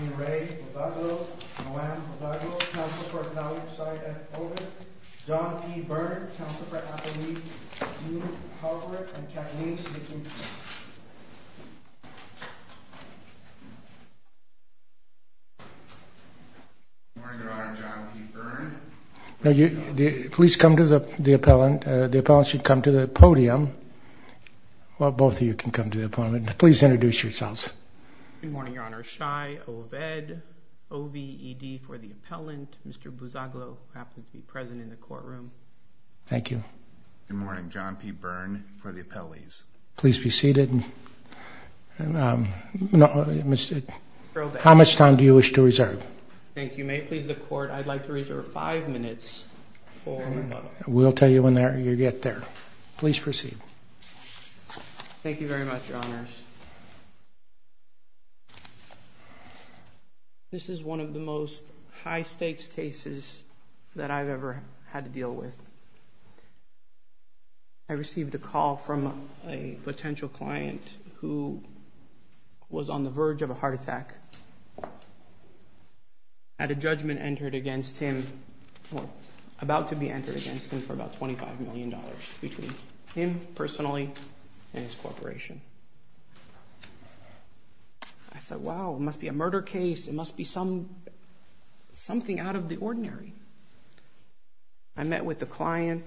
In re BOUZAGLOU, Joanne BOUZAGLOU, Council for Appellate Society, as voted, John P. Byrne, Council for Appellate League, Dean Howard, and Kathleen Smith, in favor. Good morning, Your Honor. I'm John P. Byrne. Please come to the appellant. The appellant should come to the podium. Well, both of you can come to the podium. Please introduce yourselves. Good morning, Your Honor. Shai Oved, O-V-E-D, for the appellant. Mr. BOUZAGLOU, perhaps, would be present in the courtroom. Thank you. Good morning. John P. Byrne, for the appellees. Please be seated. How much time do you wish to reserve? Thank you. May it please the Court, I'd like to reserve five minutes for rebuttal. We'll tell you when you get there. Please proceed. Thank you very much, Your Honors. This is one of the most high-stakes cases that I've ever had to deal with. I received a call from a potential client who was on the verge of a heart attack. A judgment entered against him, or about to be entered against him, for about $25 million, between him personally and his corporation. I said, wow, it must be a murder case. It must be something out of the ordinary. I met with the client,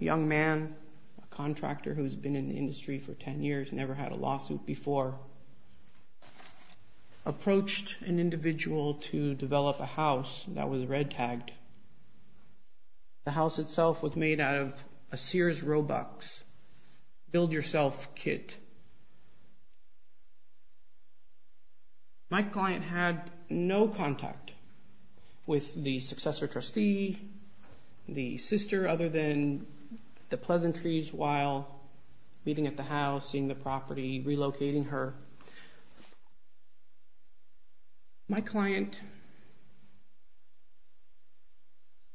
a young man, a contractor who's been in the industry for 10 years, never had a lawsuit before, approached an individual to develop a house that was red-tagged. The house itself was made out of a Sears Robux. Build yourself kit. My client had no contact with the successor trustee, the sister, other than the pleasantries while meeting at the house, seeing the property, relocating her. My client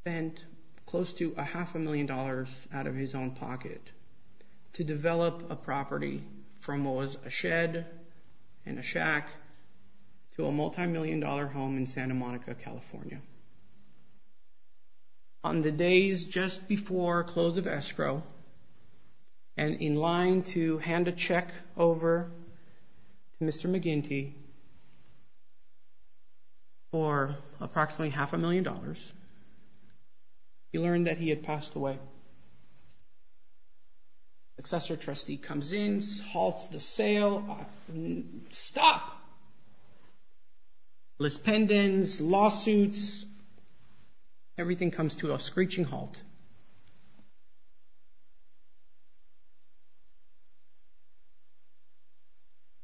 spent close to a half a million dollars out of his own pocket to develop a property from what was a shed and a shack to a multi-million dollar home in Santa Monica, California. On the days just before close of escrow and in line to hand a check over to Mr. McGinty for approximately half a million dollars, he learned that he had passed away. Successor trustee comes in, halts the sale. Stop! List pendants, lawsuits, everything comes to a screeching halt.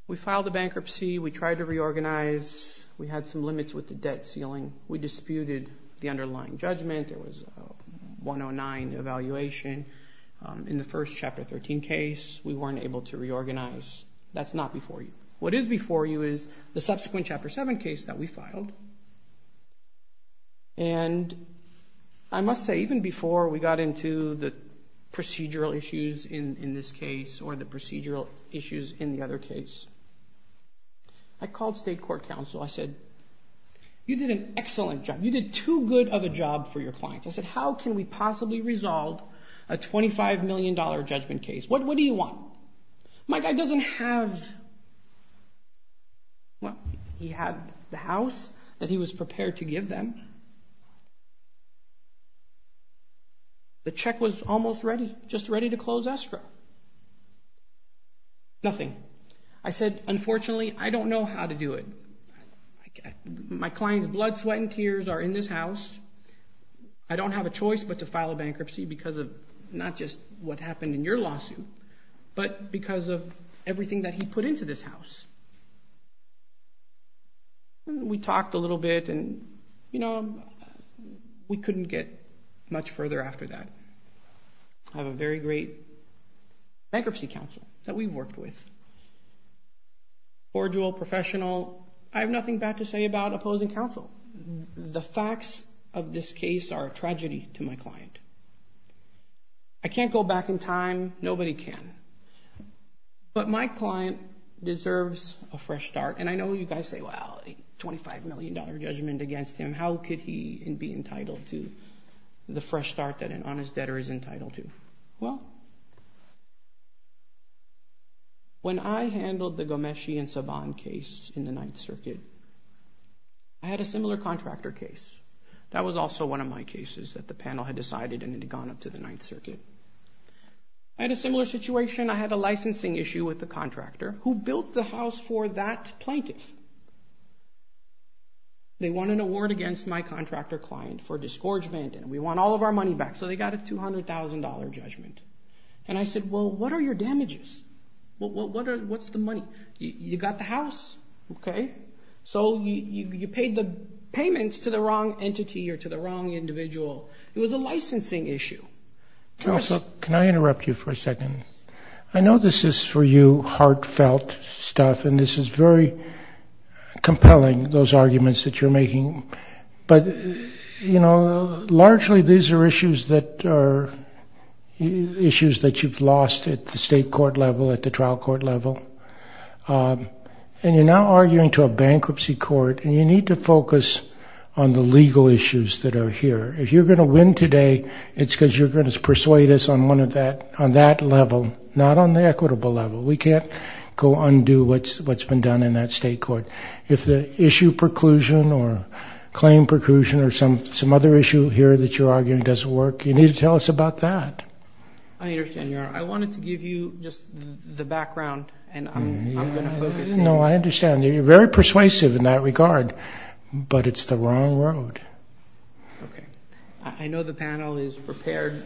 We filed a bankruptcy. We tried to reorganize. We had some limits with the debt ceiling. We disputed the underlying judgment. There was a 109 evaluation in the first Chapter 13 case. We weren't able to reorganize. That's not before you. What is before you is the subsequent Chapter 7 case that we filed. I must say, even before we got into the procedural issues in this case or the procedural issues in the other case, I called state court counsel. I said, you did an excellent job. You did too good of a job for your clients. I said, how can we possibly resolve a $25 million judgment case? What do you want? My guy doesn't have the house that he was prepared to give them. The check was almost ready, just ready to close escrow. Nothing. I said, unfortunately, I don't know how to do it. My client's blood, sweat, and tears are in this house. I don't have a choice but to file a bankruptcy because of not just what happened in your lawsuit, but because of everything that he put into this house. We talked a little bit, and we couldn't get much further after that. I have a very great bankruptcy counsel that we've worked with, cordial, professional. I have nothing bad to say about opposing counsel. The facts of this case are a tragedy to my client. I can't go back in time. Nobody can. But my client deserves a fresh start. And I know you guys say, well, a $25 million judgment against him, how could he be entitled to the fresh start that an honest debtor is entitled to? Well, when I handled the Gomeshi and Saban case in the Ninth Circuit, I had a similar contractor case. That was also one of my cases that the panel had decided and had gone up to the Ninth Circuit. I had a similar situation. I had a licensing issue with the contractor who built the house for that plaintiff. They won an award against my contractor client for disgorgement, and we want all of our money back. So they got a $200,000 judgment. And I said, well, what are your damages? What's the money? You got the house, okay? So you paid the payments to the wrong entity or to the wrong individual. It was a licensing issue. Can I interrupt you for a second? I know this is, for you, heartfelt stuff, and this is very compelling, those arguments that you're making. But, you know, largely these are issues that you've lost at the state court level, at the trial court level. And you're now arguing to a bankruptcy court, and you need to focus on the legal issues that are here. If you're going to win today, it's because you're going to persuade us on that level, not on the equitable level. We can't go undo what's been done in that state court. If the issue preclusion or claim preclusion or some other issue here that you're arguing doesn't work, you need to tell us about that. I understand, Your Honor. I wanted to give you just the background, and I'm going to focus. No, I understand. You're very persuasive in that regard, but it's the wrong road. Okay. I know the panel is prepared.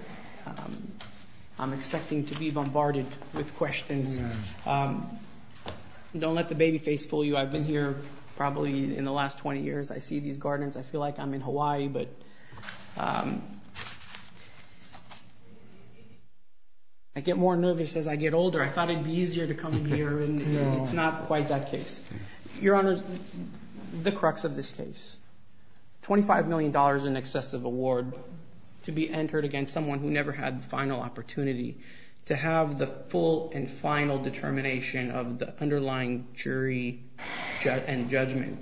I'm expecting to be bombarded with questions. Don't let the baby face fool you. I've been here probably in the last 20 years. I see these gardens. I feel like I'm in Hawaii, but I get more nervous as I get older. I thought it would be easier to come in here, and it's not quite that case. Your Honor, the crux of this case, $25 million in excessive award to be entered against someone who never had the final opportunity to have the full and final determination of the underlying jury and judgment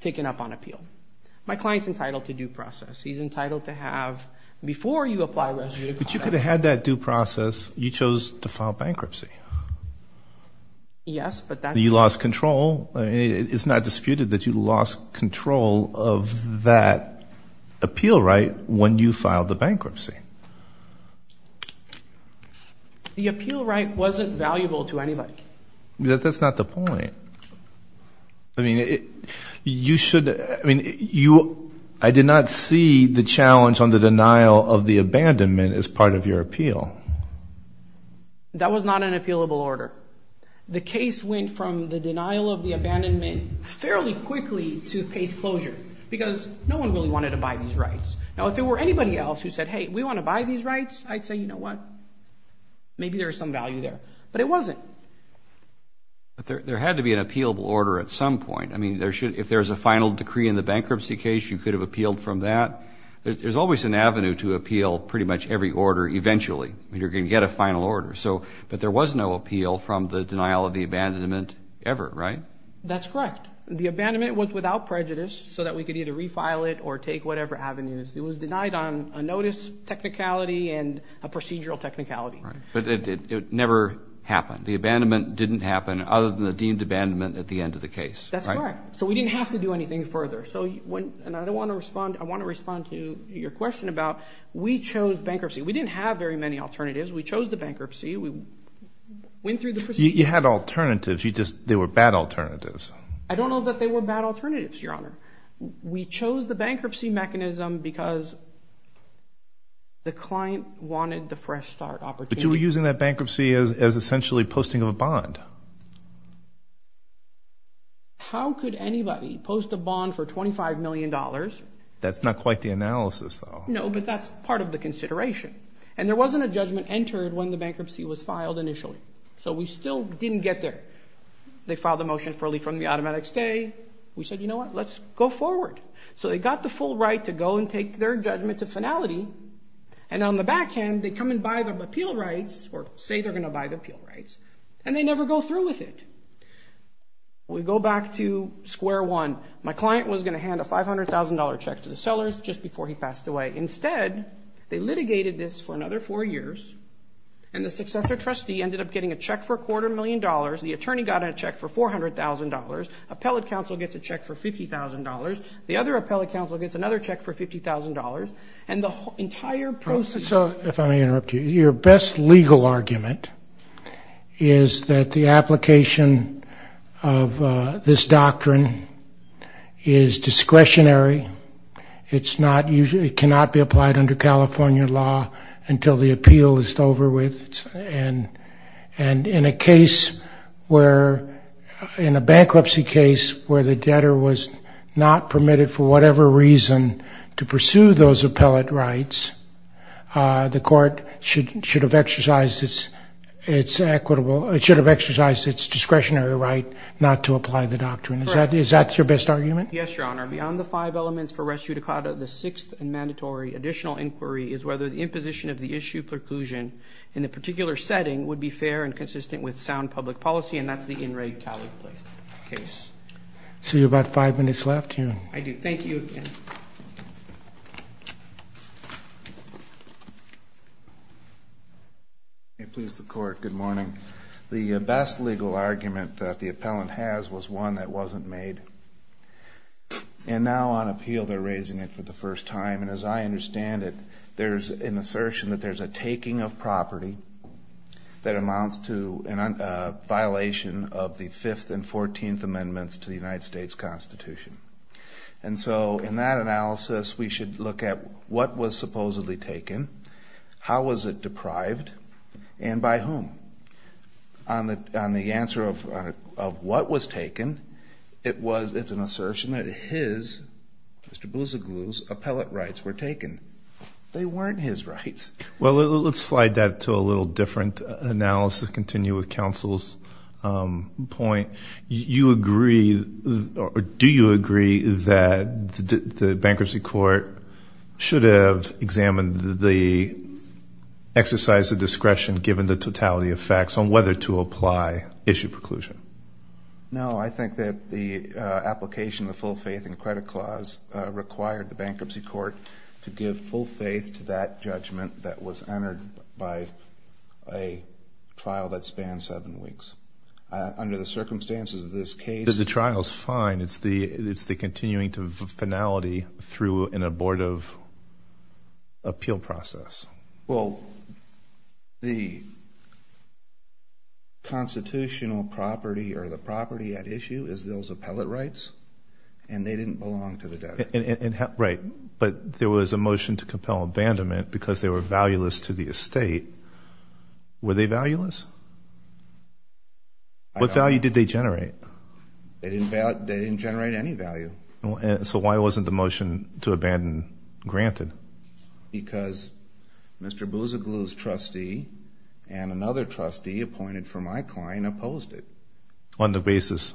taken up on appeal. My client's entitled to due process. He's entitled to have, before you apply residue to conduct. But you could have had that due process. You chose to file bankruptcy. Yes, but that's. You lost control. It's not disputed that you lost control of that appeal right when you filed the bankruptcy. The appeal right wasn't valuable to anybody. That's not the point. I mean, you should. I mean, I did not see the challenge on the denial of the abandonment as part of your appeal. That was not an appealable order. The case went from the denial of the abandonment fairly quickly to case closure because no one really wanted to buy these rights. Now, if there were anybody else who said, hey, we want to buy these rights, I'd say, you know what, maybe there's some value there. But it wasn't. But there had to be an appealable order at some point. I mean, if there's a final decree in the bankruptcy case, you could have appealed from that. There's always an avenue to appeal pretty much every order eventually. You're going to get a final order. But there was no appeal from the denial of the abandonment ever, right? That's correct. The abandonment was without prejudice so that we could either refile it or take whatever avenues. It was denied on a notice technicality and a procedural technicality. But it never happened. The abandonment didn't happen other than the deemed abandonment at the end of the case. That's correct. So we didn't have to do anything further. And I want to respond to your question about we chose bankruptcy. We didn't have very many alternatives. We chose the bankruptcy. We went through the procedure. You had alternatives. You just, they were bad alternatives. I don't know that they were bad alternatives, Your Honor. We chose the bankruptcy mechanism because the client wanted the fresh start opportunity. But you were using that bankruptcy as essentially posting of a bond. How could anybody post a bond for $25 million? That's not quite the analysis, though. No, but that's part of the consideration. And there wasn't a judgment entered when the bankruptcy was filed initially. So we still didn't get there. They filed the motion early from the automatic stay. We said, you know what, let's go forward. So they got the full right to go and take their judgment to finality. And on the back end, they come and buy the appeal rights or say they're going to buy the appeal rights. And they never go through with it. We go back to square one. My client was going to hand a $500,000 check to the sellers just before he passed away. Instead, they litigated this for another four years. And the successor trustee ended up getting a check for a quarter million dollars. He got a check for $400,000. Appellate counsel gets a check for $50,000. The other appellate counsel gets another check for $50,000. And the entire process... If I may interrupt you, your best legal argument is that the application of this doctrine is discretionary. It cannot be applied under California law until the appeal is over with. And in a case where... In a bankruptcy case where the debtor was not permitted for whatever reason to pursue those appellate rights, the court should have exercised its discretionary right not to apply the doctrine. Is that your best argument? Yes, Your Honor. Beyond the five elements for res judicata, the sixth and mandatory additional inquiry is whether the imposition of the issue preclusion in the particular setting would be fair and consistent with sound public policy, and that's the In Re Cali case. So you have about five minutes left here. I do. Thank you. May it please the Court, good morning. The best legal argument that the appellant has was one that wasn't made. And now on appeal, they're raising it for the first time. And as I understand it, there's an assertion that there's a taking of property that amounts to a violation of the Fifth and Fourteenth Amendments to the United States Constitution. And so in that analysis, we should look at what was supposedly taken, how was it deprived, and by whom. On the answer of what was taken, it's an assertion that his, Mr. Boussiglou's, appellate rights were taken. They weren't his rights. Well, let's slide that to a little different analysis, continue with counsel's point. Do you agree that the bankruptcy court should have examined the exercise of discretion given the totality of facts on whether to apply issue preclusion? No, I think that the application of the full faith and credit clause required the bankruptcy court to give full faith to that judgment that was entered by a trial that spanned seven weeks. Under the circumstances of this case... But the trial is fine. It's the continuing to finality through an abortive appeal process. Well, the constitutional property or the property at issue is those appellate rights, and they didn't belong to the debtor. Right, but there was a motion to compel abandonment because they were valueless to the estate. Were they valueless? What value did they generate? They didn't generate any value. So why wasn't the motion to abandon granted? Because Mr. Boussiglou's trustee and another trustee appointed for my client opposed it. On the basis?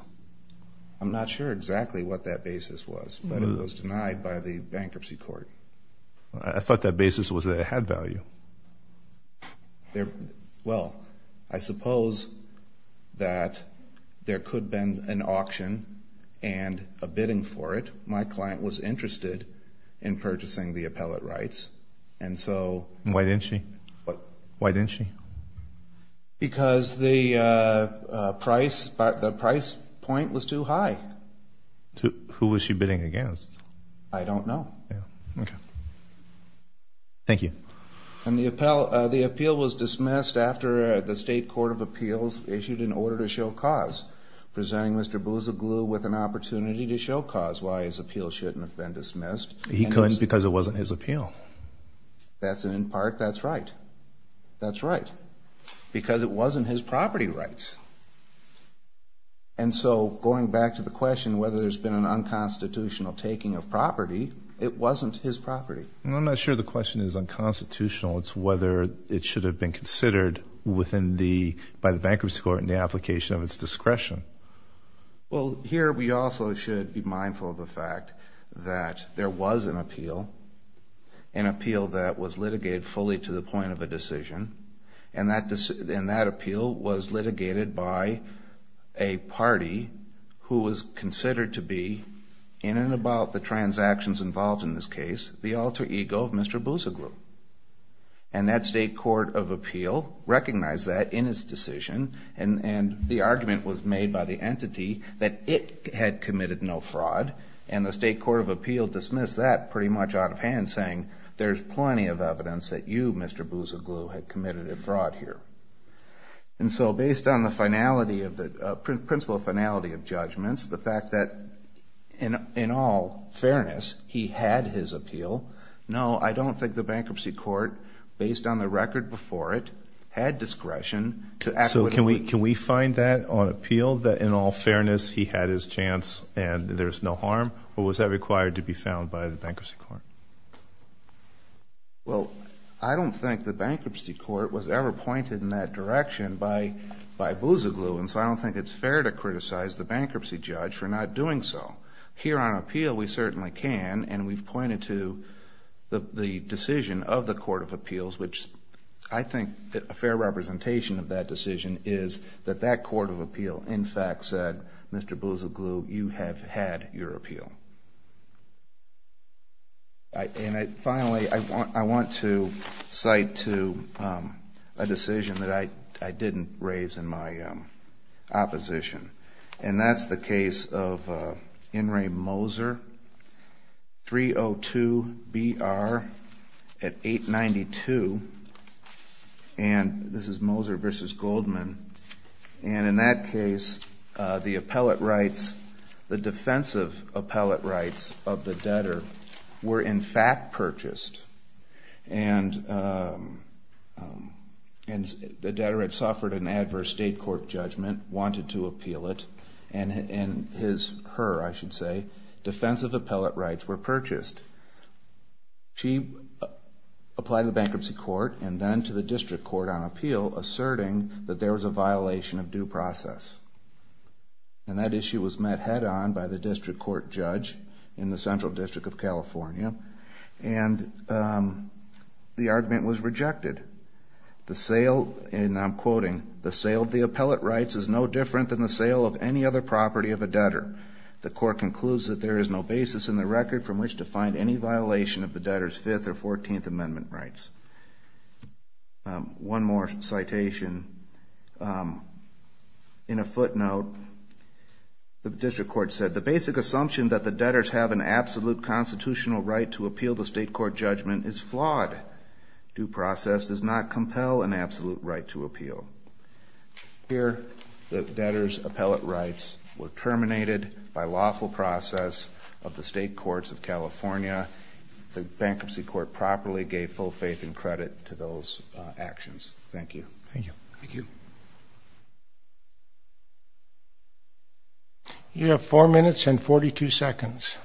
I'm not sure exactly what that basis was, but it was denied by the bankruptcy court. I thought that basis was that it had value. Well, I suppose that there could have been an auction and a bidding for it. My client was interested in purchasing the appellate rights, and so... Why didn't she? Why didn't she? Because the price point was too high. Who was she bidding against? I don't know. Thank you. And the appeal was dismissed after the state court of appeals issued an order to show cause, presenting Mr. Boussiglou with an opportunity to show cause why his appeal shouldn't have been dismissed. He couldn't because it wasn't his appeal. That's in part, that's right. That's right. Because it wasn't his property rights. And so, going back to the question whether there's been an unconstitutional taking of property, it wasn't his property. I'm not sure the question is unconstitutional. It's whether it should have been considered by the bankruptcy court in the application of its discretion. Well, here we also should be mindful of the fact that there was an appeal, an appeal that was litigated fully to the point of a decision, and that appeal was litigated by a party who was considered to be, in and about the transactions involved in this case, the alter ego of Mr. Boussiglou. And that state court of appeal recognized that in its decision, and the argument was made by the entity that it had committed no fraud, and the state court of appeal dismissed that pretty much out of hand, saying there's plenty of evidence that you, Mr. Boussiglou, had committed a fraud here. And so, based on the finality of the, principle finality of judgments, the fact that in all fairness, he had his appeal, no, I don't think the bankruptcy court, based on the record before it, had discretion. So can we find that on appeal, that in all fairness, he had his chance and there's no harm? Or was that required to be found by the bankruptcy court? Well, I don't think the bankruptcy court was ever pointed in that direction by Boussiglou, and so I don't think it's fair to criticize the bankruptcy judge for not doing so. Here on appeal, we certainly can, and we've pointed to the decision of the court of appeals, which I think a fair representation of that decision is that that court of appeal in fact said, Mr. Boussiglou, you have had your appeal. And finally, I want to cite to a decision that I didn't raise in my opposition. And that's the case of In re Moser, 302 B.R. at 892. And this is Moser v. Goldman. And in that case, the appellate rights, the defensive appellate rights of the debtor were in fact purchased. And the debtor had suffered an adverse state court judgment, wanted to appeal it, and her, I should say, defensive appellate rights were purchased. She applied to the bankruptcy court and then to the district court on appeal, asserting that there was a violation of due process. And that issue was met head-on by the district court judge in the Central District of California. And the argument was rejected. The sale, and I'm quoting, the sale of the appellate rights is no different than the sale of any other property of a debtor. The court concludes that there is no basis in the record from which to find any violation of the debtor's Fifth or Fourteenth Amendment rights. One more citation. In a footnote, the district court said, the basic assumption that the debtors have an absolute constitutional right to appeal the state court judgment is flawed. Due process does not compel an absolute right to appeal. Here, the debtor's appellate rights were terminated by lawful process of the state courts of California. The bankruptcy court properly gave full faith and credit to those actions. Thank you. Thank you. You have four minutes and 42 seconds.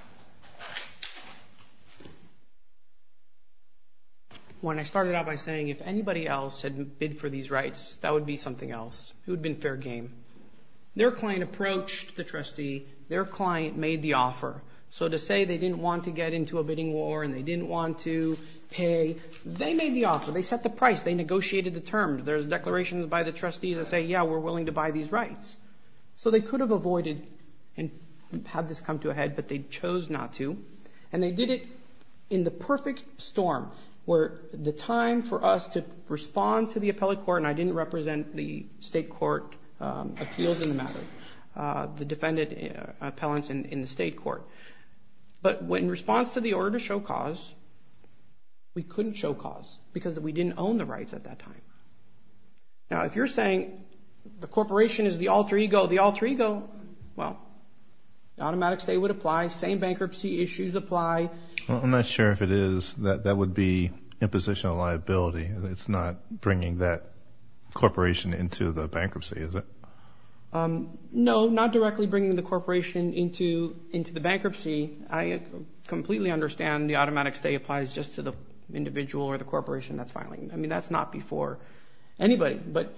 When I started out by saying if anybody else had bid for these rights, that would be something else. It would have been fair game. Their client approached the trustee. Their client made the offer. So to say they didn't want to get into a bidding war and they didn't want to pay, they made the offer. They set the price. They negotiated the terms. There's declarations by the trustees that say, yeah, we're willing to buy these rights. So they could have avoided and had this come to a head, but they chose not to. And they did it in the perfect storm where the time for us to respond to the appellate court, and I didn't represent the state court appeals in the matter, the defendant appellants in the state court. But in response to the order to show cause, we couldn't show cause because we didn't own the rights at that time. Now, if you're saying the corporation is the alter ego, the alter ego, well, automatic stay would apply. Same bankruptcy issues apply. I'm not sure if it is. That would be imposition of liability. It's not bringing that corporation into the bankruptcy, is it? No, not directly bringing the corporation into the bankruptcy. I completely understand the automatic stay applies just to the individual or the corporation that's filing. I mean, that's not before anybody. But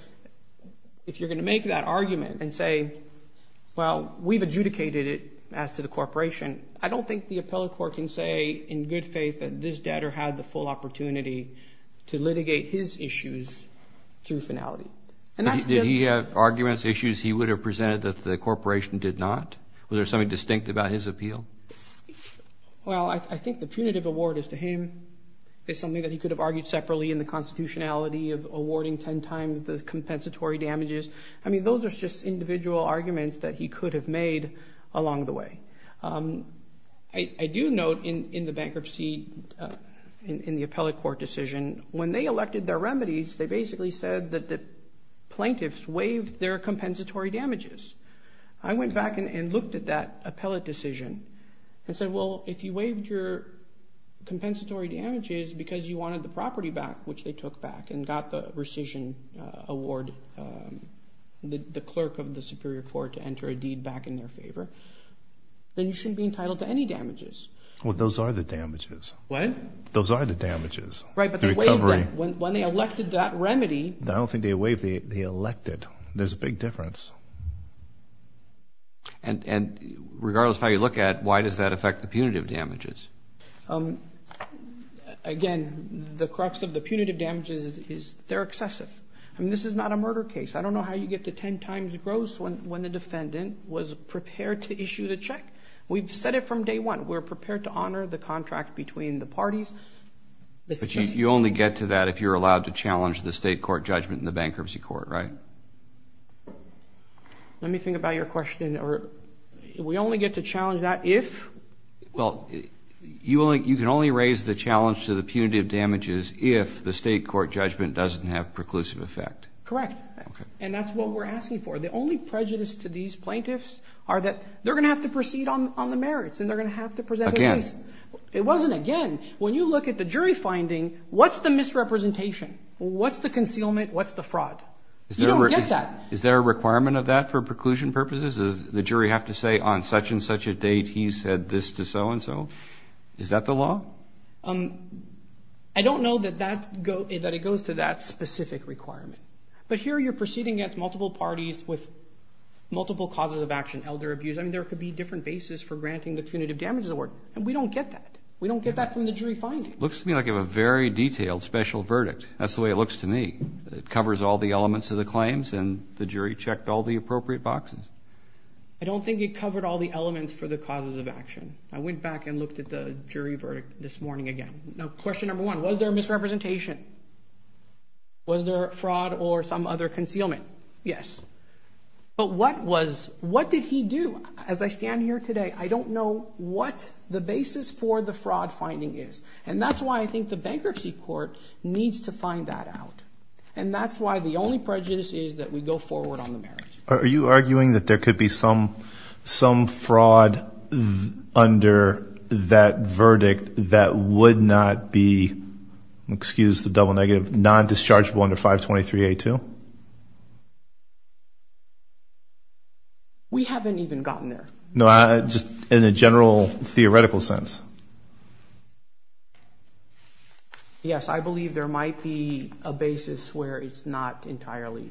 if you're going to make that argument and say, well, we've adjudicated it as to the corporation, I don't think the appellate court can say in good faith that this debtor had the full opportunity to litigate his issues through finality. Did he have arguments, issues he would have presented that the corporation did not? Was there something distinct about his appeal? Well, I think the punitive award is to him. It's something that he could have argued separately in the constitutionality of awarding ten times the compensatory damages. I mean, those are just individual arguments that he could have made along the way. I do note in the bankruptcy, in the appellate court decision, when they elected their remedies, they basically said that the plaintiffs waived their compensatory damages. I went back and looked at that appellate decision and said, well, if you waived your compensatory damages because you wanted the property back, which they took back and got the rescission award, the clerk of the superior court to enter a deed back in their favor, then you shouldn't be entitled to any damages. Well, those are the damages. What? Those are the damages. Right. The recovery. When they elected that remedy. I don't think they waived. They elected. There's a big difference. And regardless of how you look at it, why does that affect the punitive damages? Again, the crux of the punitive damages is they're excessive. I mean, this is not a murder case. I don't know how you get to ten times gross when the defendant was prepared to issue the check. We've said it from day one. We're prepared to honor the contract between the parties. But you only get to that if you're allowed to challenge the state court judgment in the bankruptcy court, right? Let me think about your question. We only get to challenge that if? Well, you can only raise the challenge to the punitive damages if the state court judgment doesn't have preclusive effect. Correct. And that's what we're asking for. The only prejudice to these plaintiffs are that they're going to have to proceed on the merits and they're going to have to present a case. Again. When you look at the jury finding, what's the misrepresentation? What's the concealment? What's the fraud? You don't get that. Is there a requirement of that for preclusion purposes? Does the jury have to say, on such and such a date, he said this to so-and-so? Is that the law? I don't know that it goes to that specific requirement. But here you're proceeding against multiple parties with multiple causes of action, elder abuse. I mean, there could be different bases for granting the punitive damages award. And we don't get that. We don't get that from the jury finding. Looks to me like you have a very detailed special verdict. That's the way it looks to me. It covers all the elements of the claims and the jury checked all the appropriate boxes. I don't think it covered all the elements for the causes of action. I went back and looked at the jury verdict this morning again. Now, question number one, was there misrepresentation? Was there fraud or some other concealment? Yes. But what was, what did he do? As I stand here today, I don't know what the basis for the fraud finding is. And that's why I think the bankruptcy court needs to find that out. And that's why the only prejudice is that we go forward on the marriage. Are you arguing that there could be some fraud under that verdict that would not be, excuse the double negative, non-dischargeable under 523A2? No. We haven't even gotten there. No, just in a general theoretical sense. Yes, I believe there might be a basis where it's not entirely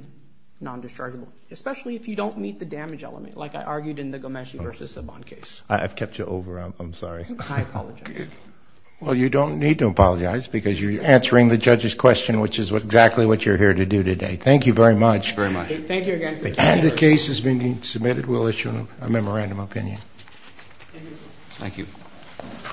non-dischargeable, especially if you don't meet the damage element like I argued in the Gomeshi versus Saban case. I've kept you over. I'm sorry. I apologize. Well, you don't need to apologize because you're answering the judge's question, which is exactly what you're here to do today. Thank you very much. Thank you very much. Thank you again. And the case is being submitted. We'll issue a memorandum of opinion. Thank you.